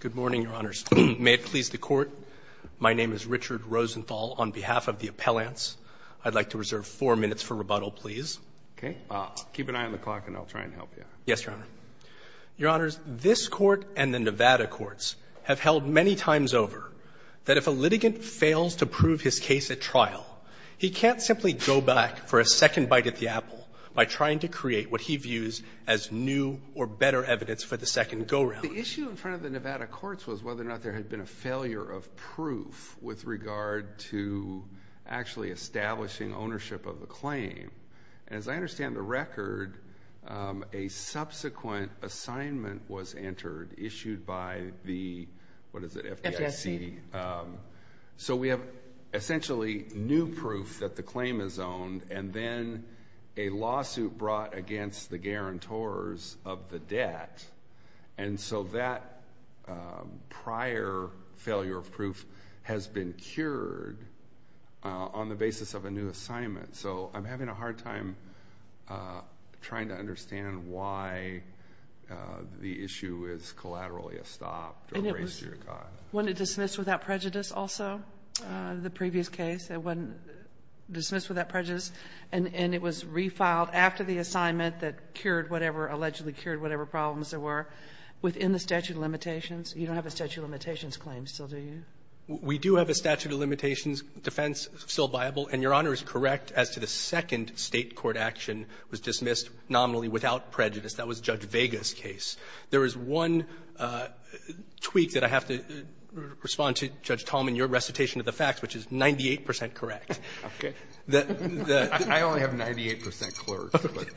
Good morning, Your Honors. May it please the Court, my name is Richard Rosenthal on behalf of the appellants. I'd like to reserve four minutes for rebuttal, please. Okay. Keep an eye on the clock and I'll try and help you. Yes, Your Honor. Your Honors, this Court and the Nevada courts have held many times over that if a litigant fails to prove his case at trial, he can't simply go back for a second bite at the apple by trying to create what he views as new or better evidence for the second go-round. The issue in front of the Nevada courts was whether or not there had been a failure of proof with regard to actually establishing ownership of a claim. As I understand the record, a subsequent assignment was entered issued by the, what is it, FDIC? FDIC. So we have essentially new proof that the claim is owned and then a lawsuit brought against the guarantors of the debt. And so that prior failure of proof has been cured on the basis of a new assignment. So I'm having a hard time trying to understand why the issue is collaterally stopped. And it was, wasn't it dismissed without prejudice also, the previous case? It wasn't that it was refiled after the assignment that cured whatever, allegedly cured whatever problems there were within the statute of limitations? You don't have a statute of limitations claim still, do you? We do have a statute of limitations defense still viable, and Your Honor is correct as to the second State court action was dismissed nominally without prejudice. That was Judge Vega's case. There is one tweak that I have to respond to, Judge Tallman, your recitation of the facts, which is 98 percent correct. Okay. I only have 98 percent correct.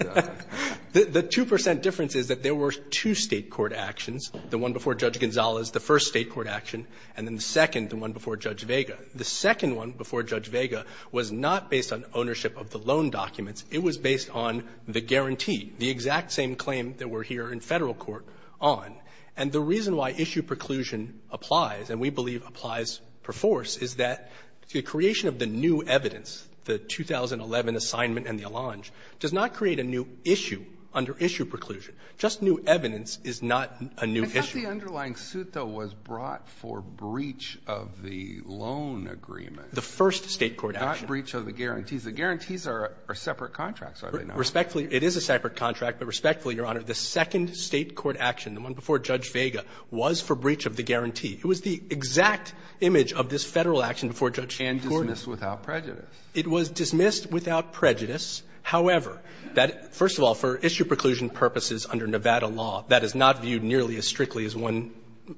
The 2 percent difference is that there were two State court actions, the one before Judge Gonzalez, the first State court action, and then the second, the one before Judge Vega. The second one before Judge Vega was not based on ownership of the loan documents. It was based on the guarantee, the exact same claim that we're here in Federal court on. And the reason why issue preclusion applies, and we believe applies per force, is that the creation of the new evidence, the 2011 assignment and the allonge, does not create a new issue under issue preclusion. Just new evidence is not a new issue. I thought the underlying suit, though, was brought for breach of the loan agreement. The first State court action. Not breach of the guarantees. The guarantees are separate contracts, are they not? Respectfully, it is a separate contract. But respectfully, Your Honor, the second State court action, the one before Judge Vega, was for breach of the guarantee. It was the exact image of this Federal action before Judge Gordon. And dismissed without prejudice. It was dismissed without prejudice. However, that, first of all, for issue preclusion purposes under Nevada law, that is not viewed nearly as strictly as one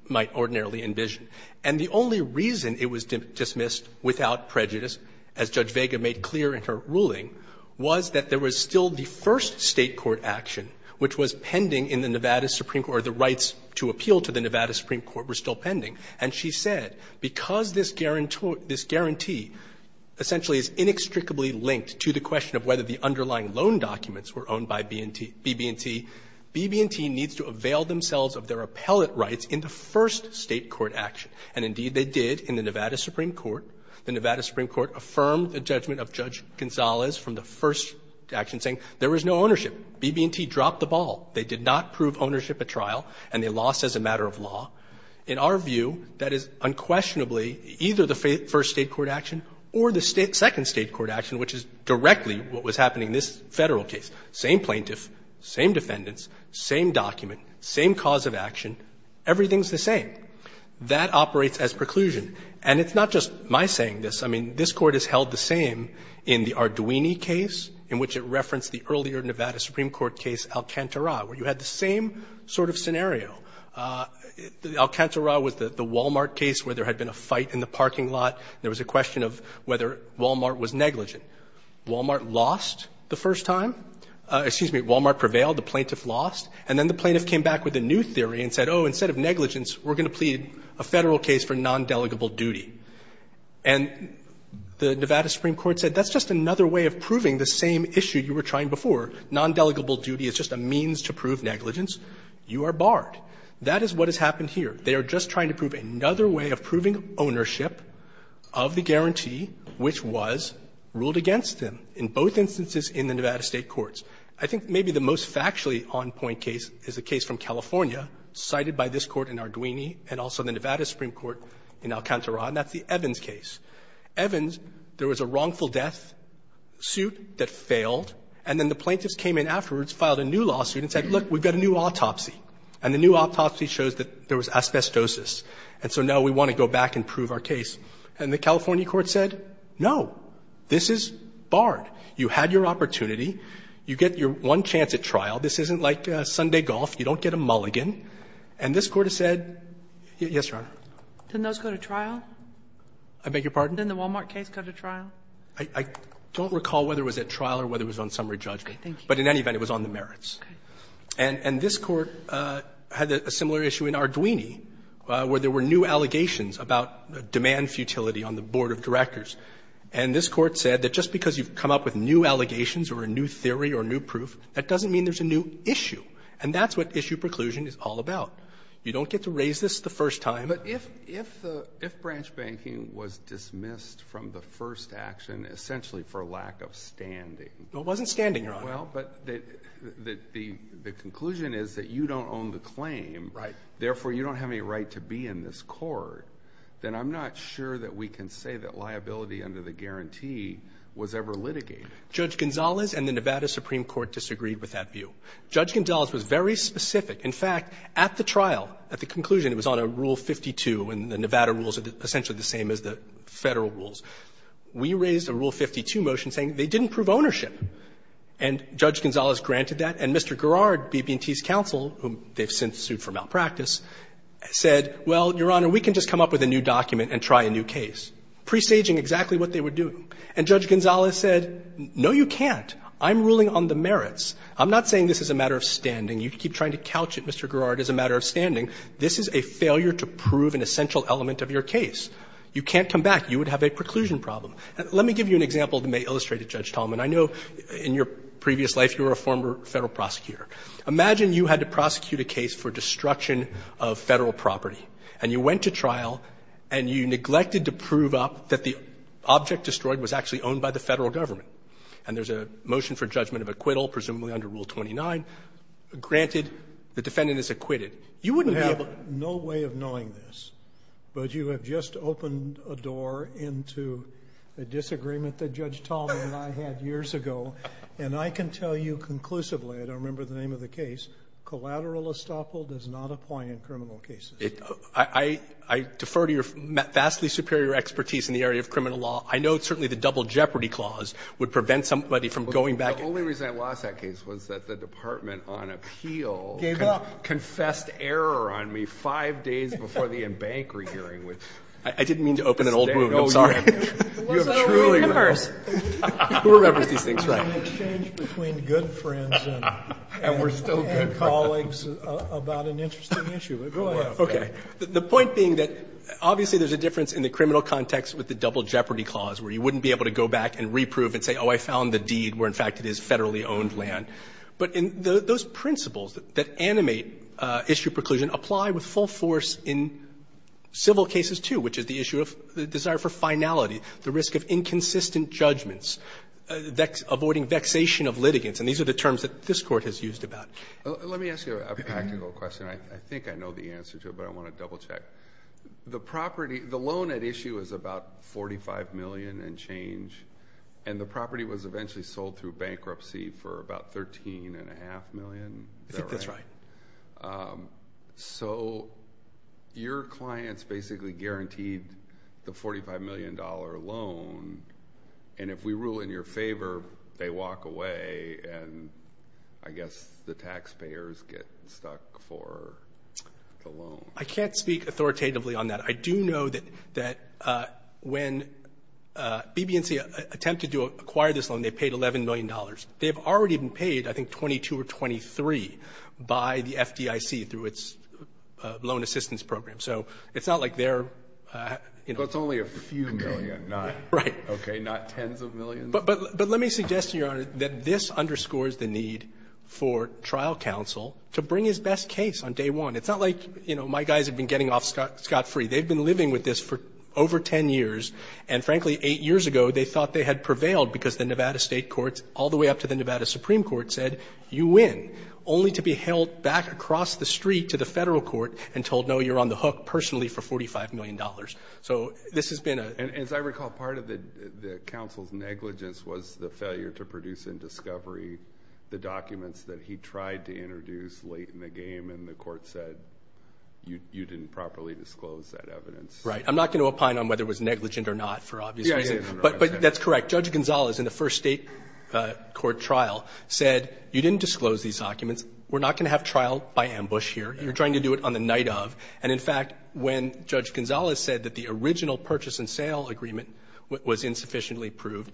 might ordinarily envision. And the only reason it was dismissed without prejudice, as Judge Vega made clear in her ruling, was that there was still the first State court action which was pending in the Nevada Supreme Court, or the rights to appeal to the Nevada Supreme Court were still pending. And she said, because this guarantee essentially is inextricably linked to the question of whether the underlying loan documents were owned by B&T, B&T needs to avail themselves of their appellate rights in the first State court action. And, indeed, they did in the Nevada Supreme Court. The Nevada Supreme Court affirmed the judgment of Judge Gonzalez from the first action, saying there was no ownership. B&T dropped the ball. They did not prove ownership at trial, and they lost as a matter of law. In our view, that is unquestionably either the first State court action or the second State court action, which is directly what was happening in this Federal case. Same plaintiff, same defendants, same document, same cause of action. Everything is the same. That operates as preclusion. And it's not just my saying this. I mean, this Court has held the same in the Arduini case, in which it referenced the earlier Nevada Supreme Court case Alcantara, where you had the same sort of scenario. Alcantara was the Wal-Mart case where there had been a fight in the parking lot. There was a question of whether Wal-Mart was negligent. Wal-Mart lost the first time. Excuse me. Wal-Mart prevailed. The plaintiff lost. And then the plaintiff came back with a new theory and said, oh, instead of negligence, we're going to plead a Federal case for nondelegable duty. And the Nevada Supreme Court said that's just another way of proving the same issue you were trying before. Nondelegable duty is just a means to prove negligence. You are barred. That is what has happened here. They are just trying to prove another way of proving ownership of the guarantee, which was ruled against them in both instances in the Nevada State courts. I think maybe the most factually on-point case is a case from California cited by this Court in Arduini and also the Nevada Supreme Court in Alcantara, and that's the Evans case. Evans, there was a wrongful death suit that failed, and then the plaintiffs came in afterwards, filed a new lawsuit and said, look, we've got a new autopsy, and the new autopsy shows that there was asbestosis. And so now we want to go back and prove our case. And the California court said, no, this is barred. You had your opportunity. You get your one chance at trial. This isn't like Sunday golf. You don't get a mulligan. And this Court has said, yes, Your Honor. Sotomayor, didn't those go to trial? I beg your pardon? Didn't the Wal-Mart case go to trial? I don't recall whether it was at trial or whether it was on summary judgment. Okay. Thank you. But in any event, it was on the merits. Okay. And this Court had a similar issue in Arduini where there were new allegations about demand futility on the board of directors. And this Court said that just because you've come up with new allegations or a new theory or new proof, that doesn't mean there's a new issue. And that's what issue preclusion is all about. You don't get to raise this the first time. But if branch banking was dismissed from the first action essentially for lack of standing. It wasn't standing, Your Honor. Well, but the conclusion is that you don't own the claim. Right. Therefore, you don't have any right to be in this court. Then I'm not sure that we can say that liability under the guarantee was ever litigated. Judge Gonzalez and the Nevada Supreme Court disagreed with that view. Judge Gonzalez was very specific. In fact, at the trial, at the conclusion, it was on a Rule 52, and the Nevada rules are essentially the same as the Federal rules. We raised a Rule 52 motion saying they didn't prove ownership. And Judge Gonzalez granted that. And Mr. Garrard, BB&T's counsel, whom they've since sued for malpractice, said, well, Your Honor, we can just come up with a new document and try a new case, presaging exactly what they were doing. And Judge Gonzalez said, no, you can't. I'm ruling on the merits. I'm not saying this is a matter of standing. You keep trying to couch it, Mr. Garrard, as a matter of standing. This is a failure to prove an essential element of your case. You can't come back. You would have a preclusion problem. Let me give you an example that may illustrate it, Judge Tallman. I know in your previous life you were a former Federal prosecutor. Imagine you had to prosecute a case for destruction of Federal property, and you went to trial and you neglected to prove up that the object destroyed was actually owned by the Federal Government. And there's a motion for judgment of acquittal, presumably under Rule 29. Granted, the defendant is acquitted. You wouldn't be able to do that. You have no way of knowing this, but you have just opened a door into a disagreement that Judge Tallman and I had years ago. And I can tell you conclusively, I don't remember the name of the case, collateral estoppel does not apply in criminal cases. I defer to your vastly superior expertise in the area of criminal law. I know certainly the Double Jeopardy Clause would prevent somebody from going back and doing it. And I can tell you that the Federal Government, on appeal, confessed error on me five days before the embankment hearing. I didn't mean to open an old wound, I'm sorry. You have truly opened an old wound. You remember these things, right. And we're still good colleagues about an interesting issue. Okay. The point being that, obviously, there's a difference in the criminal context with the Double Jeopardy Clause, where you wouldn't be able to go back and reprove and say, oh, I found the deed where, in fact, it is Federally owned land. But in those principles that animate issue preclusion apply with full force in civil cases, too, which is the issue of the desire for finality, the risk of inconsistent judgments, avoiding vexation of litigants. And these are the terms that this Court has used about it. Let me ask you a practical question. I think I know the answer to it, but I want to double-check. The property, the loan at issue is about $45 million and change, and the property was eventually sold through bankruptcy for about $13.5 million. I think that's right. So your clients basically guaranteed the $45 million loan, and if we rule in your favor, they walk away, and I guess the taxpayers get stuck for the loan. I can't speak authoritatively on that. I do know that when BB&C attempted to acquire this loan, they paid $11 million. They have already been paid, I think, $22 or $23 by the FDIC through its loan assistance program. So it's not like they're, you know ---- Breyer, but it's only a few million, not 10s of millions. But let me suggest, Your Honor, that this underscores the need for trial counsel to bring his best case on day one. It's not like, you know, my guys have been getting off scot-free. They've been living with this for over 10 years, and frankly, eight years ago, they thought they had prevailed because the Nevada State Courts, all the way up to the Nevada Supreme Court, said, you win, only to be held back across the street to the federal court and told, no, you're on the hook personally for $45 million. So this has been a ---- And as I recall, part of the counsel's negligence was the failure to produce in discovery the documents that he tried to introduce late in the game, and the court said, you didn't properly disclose that evidence. Right. I'm not going to opine on whether it was negligent or not, for obvious reasons. Yeah, I didn't realize that. But that's correct. Judge Gonzales, in the first State court trial, said, you didn't disclose these documents, we're not going to have trial by ambush here, you're trying to do it on the night of. And in fact, when Judge Gonzales said that the original purchase and sale agreement was insufficiently proved,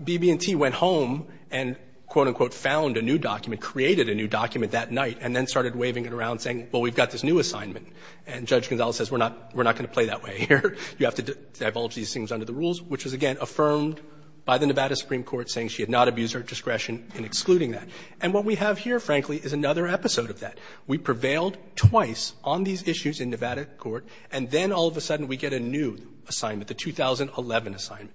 BB&T went home and, quote, unquote, found a new document, created a new document that night, and then started waving it around saying, well, we've got this new assignment. And Judge Gonzales says, we're not going to play that way here, you have to divulge these things under the rules, which was, again, affirmed by the Nevada Supreme Court saying she had not abused her discretion in excluding that. And what we have here, frankly, is another episode of that. We prevailed twice on these issues in Nevada court, and then all of a sudden we get a new assignment, the 2011 assignment.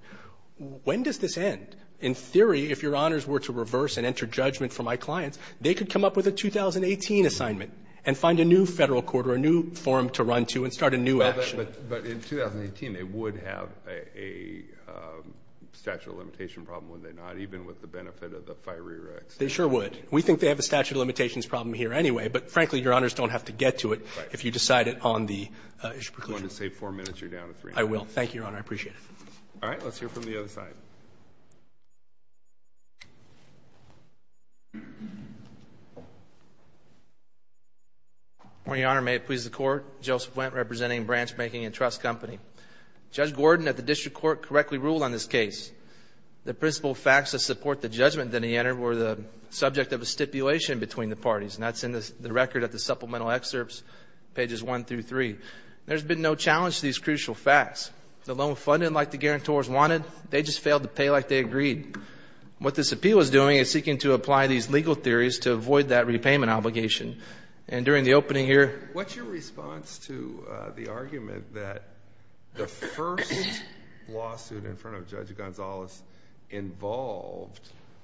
When does this end? In theory, if Your Honors were to reverse and enter judgment for my clients, they could come up with a 2018 assignment and find a new Federal court or a new forum to run to and start a new action. But in 2018, they would have a statute of limitation problem, would they not, even with the benefit of the FIRERA extension? They sure would. We think they have a statute of limitations problem here anyway, but frankly, Your Honors don't have to get to it if you decide it on the issue of preclusion. If you want to save four minutes, you're down to three minutes. I will. Thank you, Your Honor. I appreciate it. All right. Let's hear from the other side. Your Honor, may it please the Court, Joseph Wendt, representing Branch Making and Trust Company. Judge Gordon at the District Court correctly ruled on this case. The principal facts that support the judgment that he entered were the subject of a stipulation between the parties, and that's in the record of the supplemental excerpts, pages 1-3. There's been no challenge to these crucial facts. The loan fund didn't like the guarantors wanted. They just failed to pay like they agreed. What this appeal is doing is seeking to apply these legal theories to avoid that repayment obligation. And during the opening here. What's your response to the argument that the first lawsuit in front of Judge Gonzales involved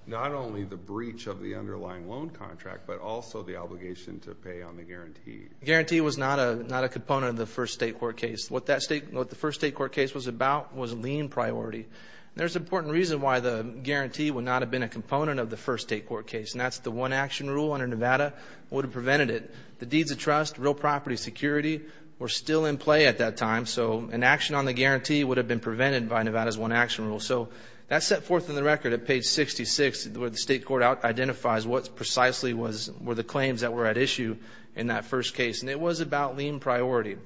not only the breach of the underlying loan contract, but also the obligation to pay on the guarantee? Guarantee was not a component of the first state court case. What the first state court case was about was lien priority. There's an important reason why the guarantee would not have been a component of the first state court case, and that's the one-action rule under Nevada would have prevented it. The deeds of trust, real property security were still in play at that time, so an action on the guarantee would have been prevented by Nevada's one-action rule. So that's set forth in the record at page 66, where the state court identifies what precisely were the claims that were at issue in that first case, and it was about lien priority.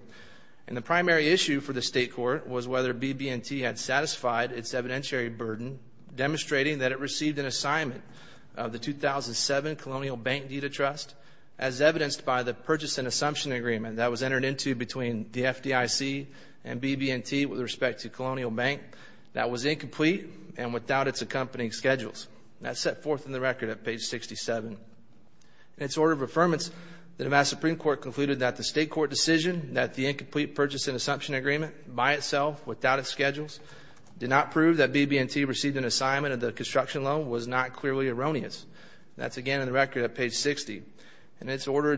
And the primary issue for the state court was whether BB&T had satisfied its evidentiary burden, demonstrating that it received an assignment of the 2007 Colonial Bank Deed of Trust, as evidenced by the purchase and assumption agreement that was entered into between the FDIC and BB&T with respect to Colonial Bank, that was incomplete and without its accompanying schedules. That's set forth in the record at page 67. In its order of affirmance, the Nevada Supreme Court concluded that the state court decision that the incomplete purchase and assumption agreement by itself, without its schedules, did not prove that BB&T received an assignment of the construction loan was not clearly erroneous. That's again in the record at page 60. In its order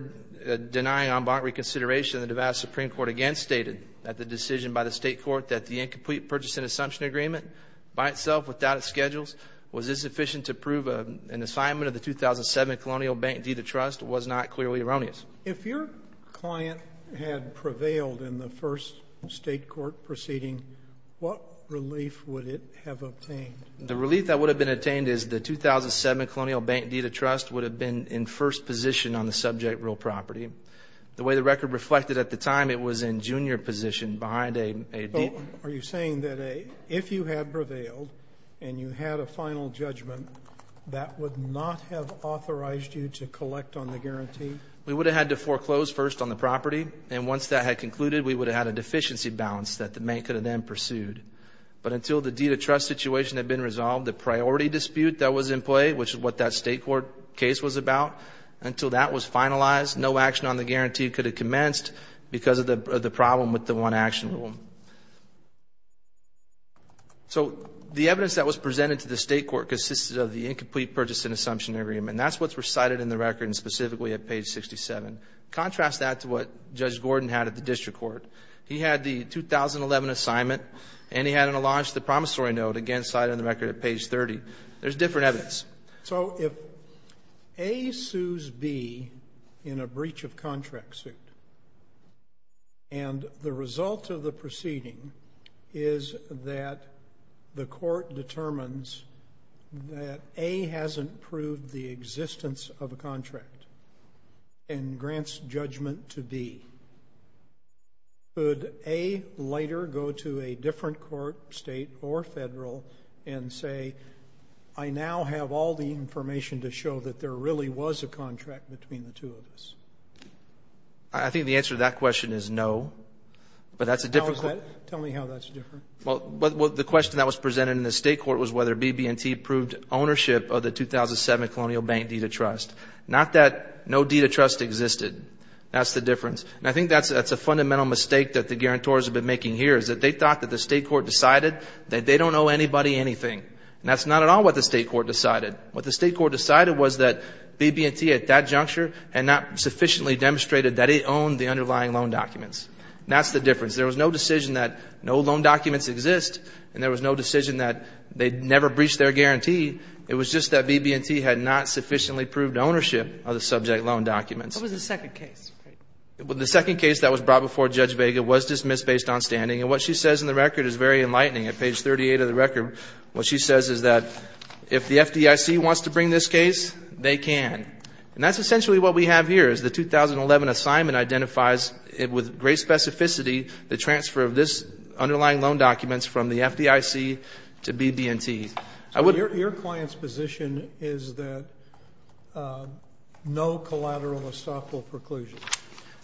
denying en banc reconsideration, the Nevada Supreme Court again stated that the decision by the state court that the incomplete purchase and assumption agreement by itself, without its schedules, was insufficient to prove an assignment of the 2007 Colonial Bank Deed of Trust was not clearly erroneous. If your client had prevailed in the first state court proceeding, what relief would it have obtained? The relief that would have been obtained is the 2007 Colonial Bank Deed of Trust would have been in first position on the subject real property. The way the record reflected at the time, it was in junior position behind a deed. Are you saying that if you had prevailed and you had a final judgment, that would not have authorized you to collect on the guarantee? We would have had to foreclose first on the property, and once that had concluded, we would have had a deficiency balance that the bank could have then pursued. But until the deed of trust situation had been resolved, the priority dispute that was in play, which is what that state court case was about, until that was finalized, no action on the guarantee could have commenced because of the problem with the one-action rule. So the evidence that was presented to the state court consisted of the incomplete purchase and assumption agreement. And that's what's recited in the record and specifically at page 67. Contrast that to what Judge Gordon had at the district court. He had the 2011 assignment, and he had an alleged promissory note, again cited in the record at page 30. There's different evidence. So if A sues B in a breach of contract suit, and the result of the proceeding is that the court determines that A hasn't proved the existence of a contract and grants judgment to B, could A later go to a different court, state or federal, and say, I now have all the information to show that there really was a contract between the two of us? I think the answer to that question is no. But that's a different question. Go ahead. Tell me how that's different. Well, the question that was presented in the state court was whether BB&T proved ownership of the 2007 Colonial Bank deed of trust. Not that no deed of trust existed. That's the difference. And I think that's a fundamental mistake that the guarantors have been making here, is that they thought that the state court decided that they don't owe anybody anything. And that's not at all what the state court decided. What the state court decided was that BB&T at that juncture had not sufficiently demonstrated that it owned the underlying loan documents. That's the difference. Because there was no decision that no loan documents exist, and there was no decision that they never breached their guarantee. It was just that BB&T had not sufficiently proved ownership of the subject loan documents. What was the second case? The second case that was brought before Judge Vega was dismissed based on standing. And what she says in the record is very enlightening. At page 38 of the record, what she says is that if the FDIC wants to bring this case, they can. And that's essentially what we have here, is the 2011 assignment identifies with great specificity the transfer of this underlying loan documents from the FDIC to BB&T. I would Your client's position is that no collateral or stockhold preclusion.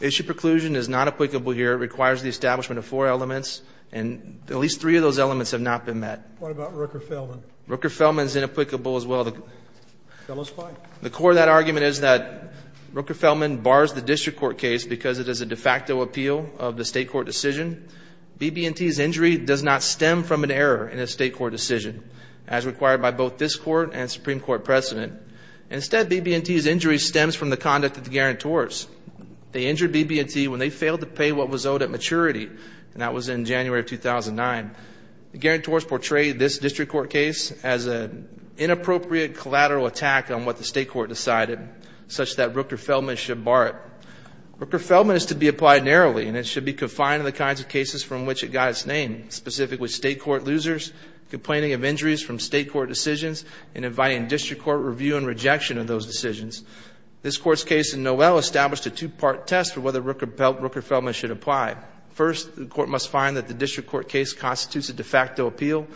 Issue preclusion is not applicable here. It requires the establishment of four elements. And at least three of those elements have not been met. What about Rooker-Feldman? Rooker-Feldman is inapplicable as well. The core of that argument is that Rooker-Feldman bars the district court case because it is a de facto appeal of the state court decision. BB&T's injury does not stem from an error in a state court decision as required by both this court and Supreme Court precedent. Instead, BB&T's injury stems from the conduct of the guarantors. They injured BB&T when they failed to pay what was owed at maturity, and that was in January of 2009. The guarantors portrayed this district court case as an inappropriate collateral attack on what the state court decided, such that Rooker-Feldman should bar it. Rooker-Feldman is to be applied narrowly, and it should be confined to the kinds of cases from which it got its name, specific with state court losers, complaining of injuries from state court decisions, and inviting district court review and rejection of those decisions. This Court's case in Noel established a two-part test for whether Rooker-Feldman should apply. First, the court must find that the district court case constitutes a de facto appeal,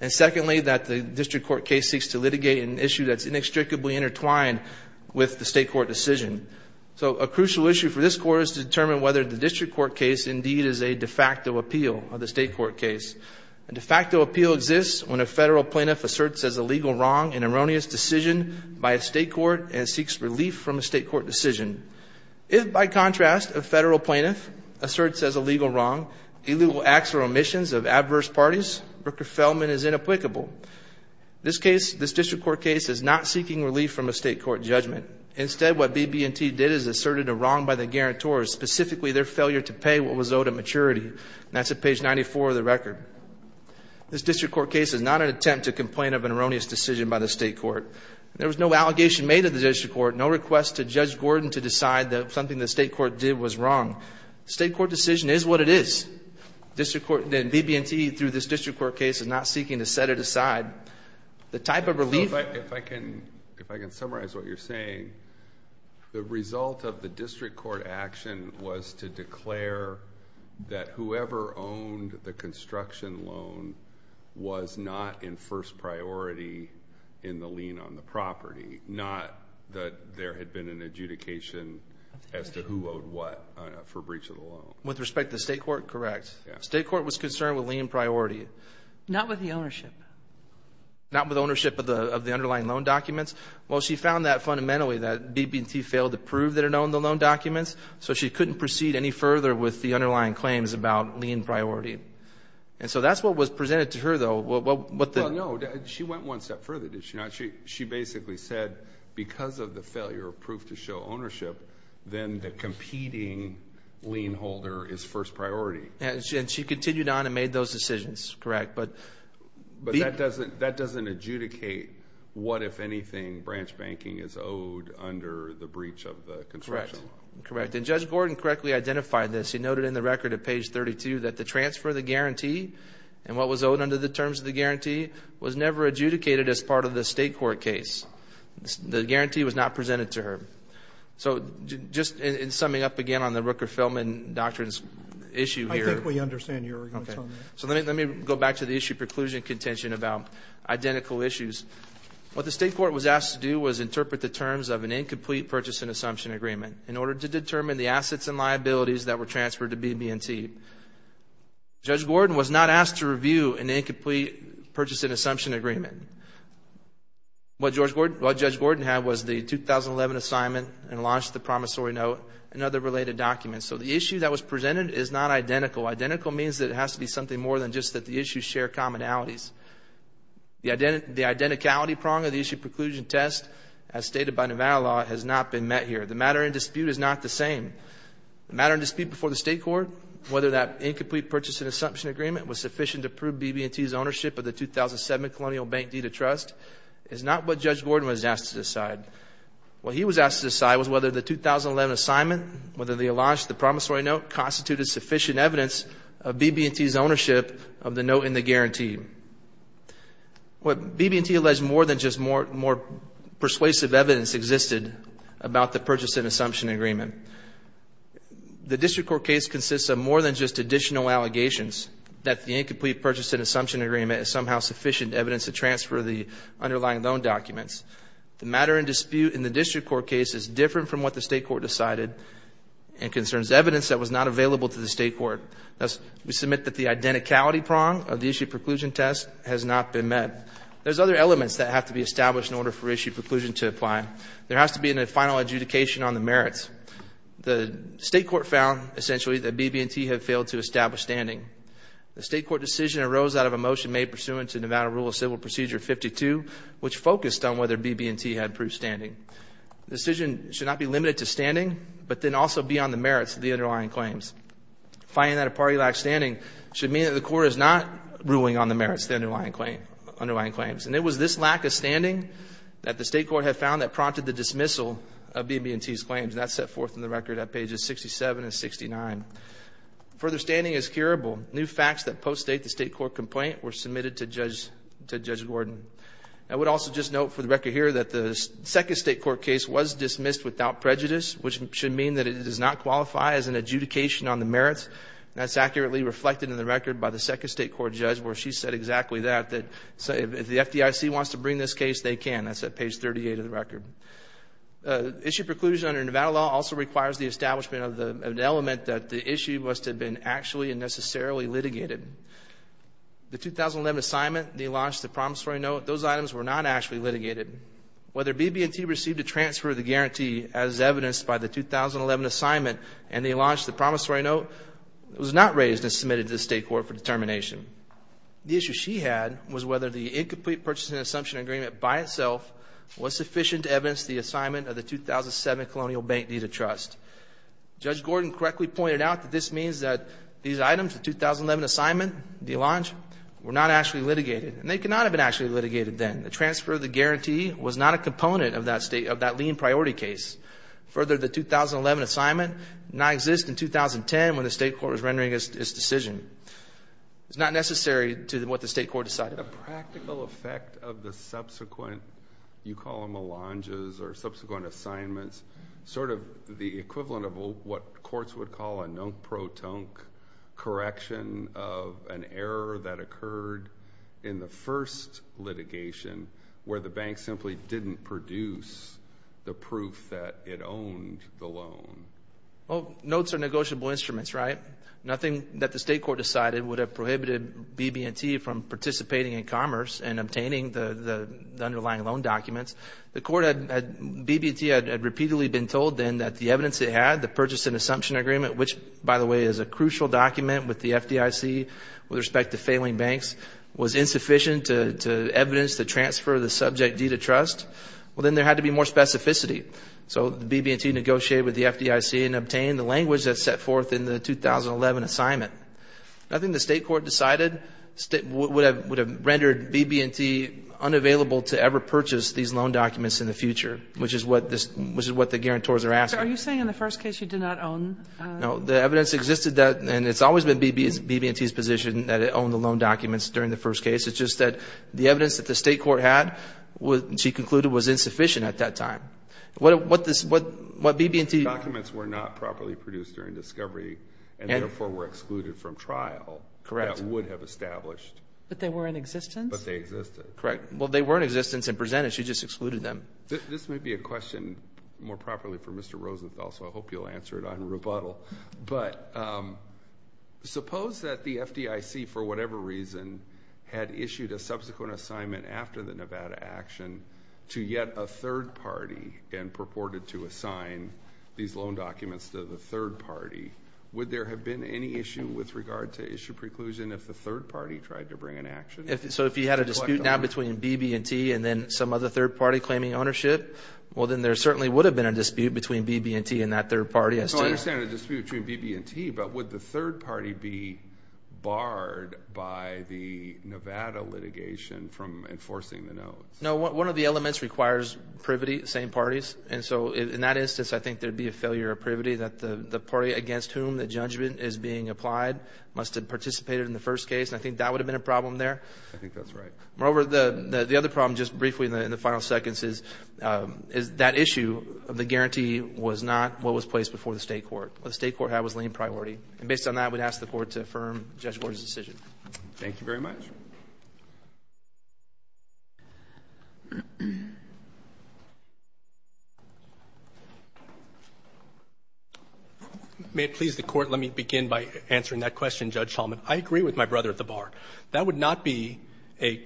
and secondly, that the district court case seeks to litigate an issue that's inextricably intertwined with the state court decision. So a crucial issue for this Court is to determine whether the district court case indeed is a de facto appeal of the state court case. A de facto appeal exists when a federal plaintiff asserts as a legal wrong an erroneous decision by a state court and seeks relief from a state court decision. If, by contrast, a federal plaintiff asserts as a legal wrong illegal acts or omissions of adverse parties, Rooker-Feldman is inapplicable. This case, this district court case, is not seeking relief from a state court judgment. Instead, what BB&T did is asserted a wrong by the guarantor, specifically their failure to pay what was owed at maturity. And that's at page 94 of the record. This district court case is not an attempt to complain of an erroneous decision by the state court. There was no allegation made of the district court, no request to Judge Gordon to decide that something the state court did was wrong. The state court decision is what it is. The district court, then BB&T, through this district court case, is not seeking to set it aside. The type of relief If I can summarize what you're saying, the result of the district court action was to declare that whoever owned the construction loan was not in first priority in the lien on the property. Not that there had been an adjudication as to who owed what for breach of the loan. With respect to the state court, correct. State court was concerned with lien priority. Not with the ownership. Not with ownership of the underlying loan documents. Well, she found that, fundamentally, that BB&T failed to prove that it owned the loan documents, so she couldn't proceed any further with the underlying claims about lien priority. And so that's what was presented to her, though. Well, no. She went one step further, did she not? She basically said, because of the failure of proof to show ownership, then the competing lien holder is first priority. And she continued on and made those decisions, correct. But that doesn't adjudicate what, if anything, branch banking is owed under the breach of the construction. Correct. Correct. And Judge Gordon correctly identified this. He noted in the record at page 32 that the transfer of the guarantee and what was owed under the terms of the guarantee was never adjudicated as part of the state court case. The guarantee was not presented to her. So, just in summing up again on the Rooker-Feldman Doctrine's issue here. I think we understand your arguments on that. So, let me go back to the issue of preclusion contention about identical issues. What the state court was asked to do was interpret the terms of an incomplete purchase and assumption agreement in order to determine the assets and liabilities that were transferred to BB&T. Judge Gordon was not asked to review an incomplete purchase and assumption agreement. What Judge Gordon had was the 2011 assignment and launched the promissory note and other related documents. So, the issue that was presented is not identical. Identical means that it has to be something more than just that the issues share commonalities. The identicality prong of the issue preclusion test as stated by Nevada law has not been met here. The matter in dispute is not the same. The matter in dispute before the state court, whether that incomplete purchase and assumption agreement was sufficient to prove BB&T's ownership of the 2007 Colonial Bank Deed of Trust is not what Judge Gordon was asked to decide. What he was asked to decide was whether the 2011 assignment, whether they launched the was sufficient evidence of BB&T's ownership of the note in the guarantee. What BB&T alleged more than just more persuasive evidence existed about the purchase and assumption agreement. The district court case consists of more than just additional allegations that the incomplete purchase and assumption agreement is somehow sufficient evidence to transfer the underlying loan documents. The matter in dispute in the district court case is different from what the state court decided and concerns evidence that was not available to the state court. Thus, we submit that the identicality prong of the issue preclusion test has not been met. There's other elements that have to be established in order for issue preclusion to apply. There has to be a final adjudication on the merits. The state court found, essentially, that BB&T had failed to establish standing. The state court decision arose out of a motion made pursuant to Nevada Rule of Civil Procedure 52, which focused on whether BB&T had proved standing. The decision should not be limited to standing, but then also be on the merits of the underlying claims. Finding that a party lacked standing should mean that the court is not ruling on the merits of the underlying claims. And it was this lack of standing that the state court had found that prompted the dismissal of BB&T's claims. That's set forth in the record at pages 67 and 69. Further standing is curable. New facts that post-state the state court complaint were submitted to Judge Gordon. I would also just note for the record here that the second state court case was dismissed without prejudice, which should mean that it does not qualify as an adjudication on the merits. That's accurately reflected in the record by the second state court judge, where she said exactly that, that if the FDIC wants to bring this case, they can. That's at page 38 of the record. Issue preclusion under Nevada law also requires the establishment of an element that the issue must have been actually and necessarily litigated. The 2011 assignment, they launched the promissory note. Those items were not actually litigated. Whether BB&T received a transfer of the guarantee, as evidenced by the 2011 assignment, and they launched the promissory note was not raised and submitted to the state court for determination. The issue she had was whether the incomplete purchase and assumption agreement by itself was sufficient to evidence the assignment of the 2007 colonial bank deed of trust. Judge Gordon correctly pointed out that this means that these items, the 2011 assignment, the allonge, were not actually litigated. And they could not have been actually litigated then. The transfer of the guarantee was not a component of that lien priority case. Further, the 2011 assignment did not exist in 2010 when the state court was rendering its decision. It's not necessary to what the state court decided. The practical effect of the subsequent, you call them allonges, or subsequent assignments, sort of the equivalent of what courts would call a non-proton correction of the assignment of an error that occurred in the first litigation where the bank simply didn't produce the proof that it owned the loan. Well, notes are negotiable instruments, right? Nothing that the state court decided would have prohibited BB&T from participating in commerce and obtaining the underlying loan documents. The court had, BB&T had repeatedly been told then that the evidence it had, the purchase and assumption agreement, which, by the way, is a crucial document with the FDIC with respect to failing banks, was insufficient to evidence to transfer the subject deed of trust. Well, then there had to be more specificity. So BB&T negotiated with the FDIC and obtained the language that's set forth in the 2011 assignment. Nothing the state court decided would have rendered BB&T unavailable to ever purchase these loan documents in the future, which is what the guarantors are asking. Are you saying in the first case you did not own? No, the evidence existed, and it's always been BB&T's position that it owned the loan documents during the first case. It's just that the evidence that the state court had, she concluded, was insufficient at that time. What BB&T... The documents were not properly produced during discovery and, therefore, were excluded from trial. Correct. That would have established. But they were in existence? But they existed. Correct. Well, they were in existence and presented. She just excluded them. This may be a question more properly for Mr. Rosenthal, so I hope you'll answer it on rebuttal. But suppose that the FDIC, for whatever reason, had issued a subsequent assignment after the Nevada action to yet a third party and purported to assign these loan documents to the third party. Would there have been any issue with regard to issue preclusion if the third party tried to bring an action? So if you had a dispute now between BB&T and then some other third party claiming ownership, well, then there certainly would have been a dispute between BB&T and that third party. So I understand the dispute between BB&T, but would the third party be barred by the Nevada litigation from enforcing the notes? No. One of the elements requires privity, the same parties. And so in that instance, I think there would be a failure of privity that the party against whom the judgment is being applied must have participated in the first case. I think that would have been a problem there. I think that's right. Moreover, the other problem, just briefly in the final seconds, is that issue of the guarantee was not what was placed before the State court. What the State court had was lien priority. And based on that, I would ask the Court to affirm Judge Warner's decision. Thank you very much. May it please the Court, let me begin by answering that question, Judge Tallman. I agree with my brother at the bar. That would not be a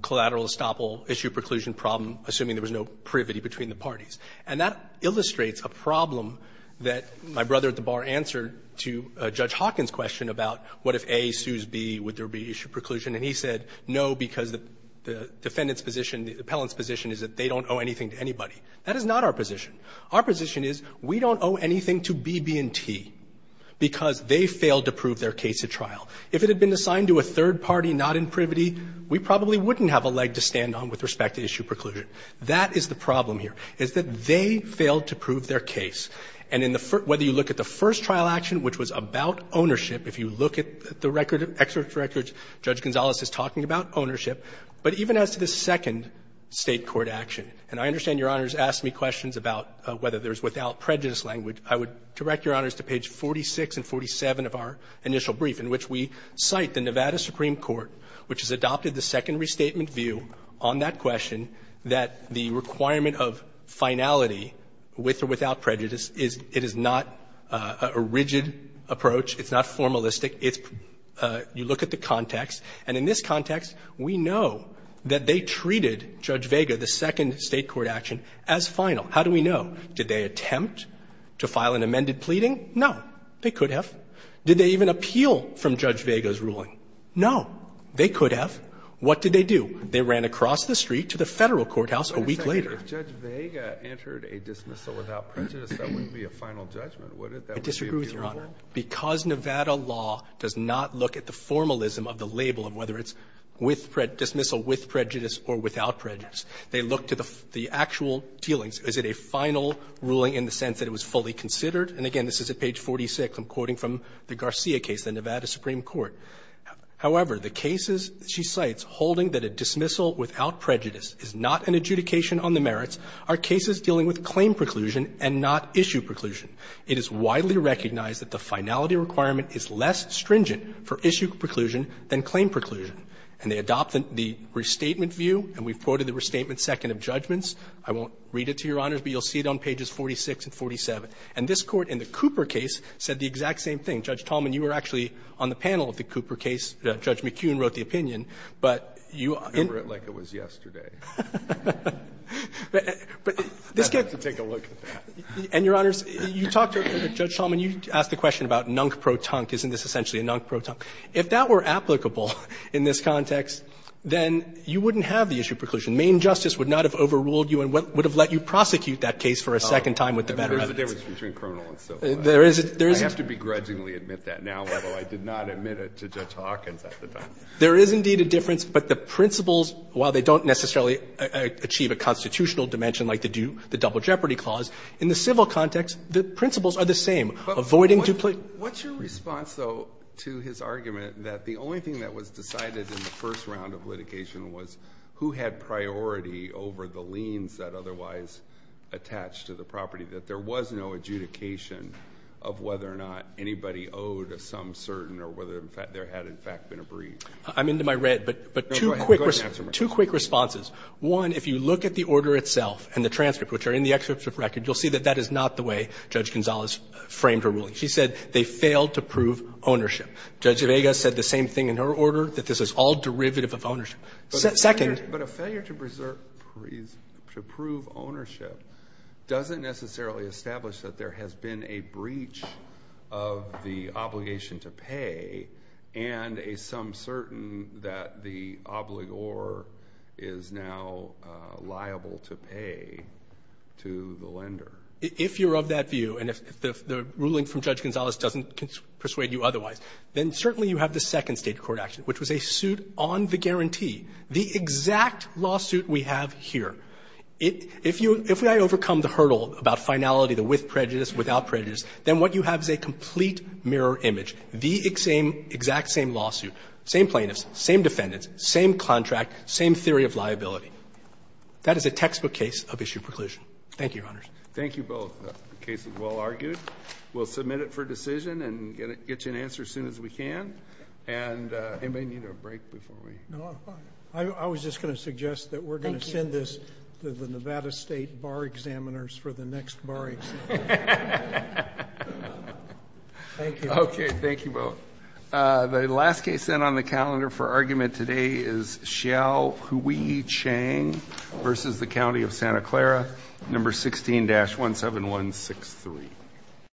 collateral estoppel issue preclusion problem, assuming there was no privity between the parties. And that illustrates a problem that my brother at the bar answered to Judge Hawkins' question about what if A sues B, would there be issue preclusion? And he said, no, because the defendant's position, the appellant's position is that they don't owe anything to anybody. That is not our position. Our position is we don't owe anything to BB&T because they failed to prove their case at trial. If it had been assigned to a third party not in privity, we probably wouldn't have a leg to stand on with respect to issue preclusion. That is the problem here, is that they failed to prove their case. And whether you look at the first trial action, which was about ownership, if you look at the record, excerpt from the record, Judge Gonzales is talking about ownership. But even as to the second State court action, and I understand Your Honors asked me questions about whether there's without prejudice language, I would direct Your Honors to page 46 and 47 of our initial brief, in which we cite the Nevada Supreme Court, which has adopted the second restatement view on that question, that the requirement of finality with or without prejudice, it is not a rigid approach. It's not formalistic. It's you look at the context. And in this context, we know that they treated Judge Vega, the second State court action, as final. How do we know? Did they attempt to file an amended pleading? No. They could have. Did they even appeal from Judge Vega's ruling? No. They could have. What did they do? They ran across the street to the Federal courthouse a week later. If Judge Vega entered a dismissal without prejudice, that wouldn't be a final judgment, would it? I disagree with Your Honor. Because Nevada law does not look at the formalism of the label of whether it's dismissal with prejudice or without prejudice. They look to the actual dealings. Is it a final ruling in the sense that it was fully considered? And again, this is at page 46. I'm quoting from the Garcia case, the Nevada Supreme Court. However, the cases she cites holding that a dismissal without prejudice is not an adjudication on the merits are cases dealing with claim preclusion and not issue preclusion. It is widely recognized that the finality requirement is less stringent for issue preclusion than claim preclusion. And they adopted the restatement view. And we've quoted the restatement second of judgments. I won't read it to Your Honors, but you'll see it on pages 46 and 47. And this Court in the Cooper case said the exact same thing. Judge Tallman, you were actually on the panel of the Cooper case. Judge McKeon wrote the opinion. But you are in the room. I remember it like it was yesterday. But this gets to take a look at that. And, Your Honors, you talked to Judge Tallman. You asked the question about nunk-pro-tunk. Isn't this essentially a nunk-pro-tunk? If that were applicable in this context, then you wouldn't have the issue of preclusion. Maine justice would not have overruled you and would have let you prosecute that case for a second time with the better evidence. There is a difference between criminal and civil. I have to begrudgingly admit that now, although I did not admit it to Judge Hawkins at the time. There is indeed a difference. But the principles, while they don't necessarily achieve a constitutional dimension like they do the double jeopardy clause, in the civil context, the principles are the same. Avoiding duplicate. What's your response, though, to his argument that the only thing that was decided in the first round of litigation was who had priority over the liens that otherwise attached to the property, that there was no adjudication of whether or not anybody owed some certain or whether there had, in fact, been a breach? I'm into my red, but two quick responses. One, if you look at the order itself and the transcript, which are in the excerpt of record, you'll see that that is not the way Judge Gonzalez framed her ruling. She said they failed to prove ownership. Judge Vega said the same thing in her order, that this is all derivative of ownership. Second. But a failure to prove ownership doesn't necessarily establish that there has been a breach of the obligation to pay and a some certain that the obligor is now liable to pay to the lender. If you're of that view and if the ruling from Judge Gonzalez doesn't persuade you otherwise, then certainly you have the second State court action, which was a suit on the guarantee, the exact lawsuit we have here. If I overcome the hurdle about finality, the with prejudice, without prejudice, then what you have is a complete mirror image, the exact same lawsuit, same plaintiffs, same defendants, same contract, same theory of liability. That is a textbook case of issue preclusion. Thank you, Your Honors. Thank you both. The case is well argued. We'll submit it for decision and get you an answer as soon as we can. Anybody need a break before we? No. I was just going to suggest that we're going to send this to the Nevada State bar examiners for the next bar exam. Thank you. Okay. Thank you both. The last case on the calendar for argument today is Xiao Hui Chang versus the County of Santa Clara, number 16-17163.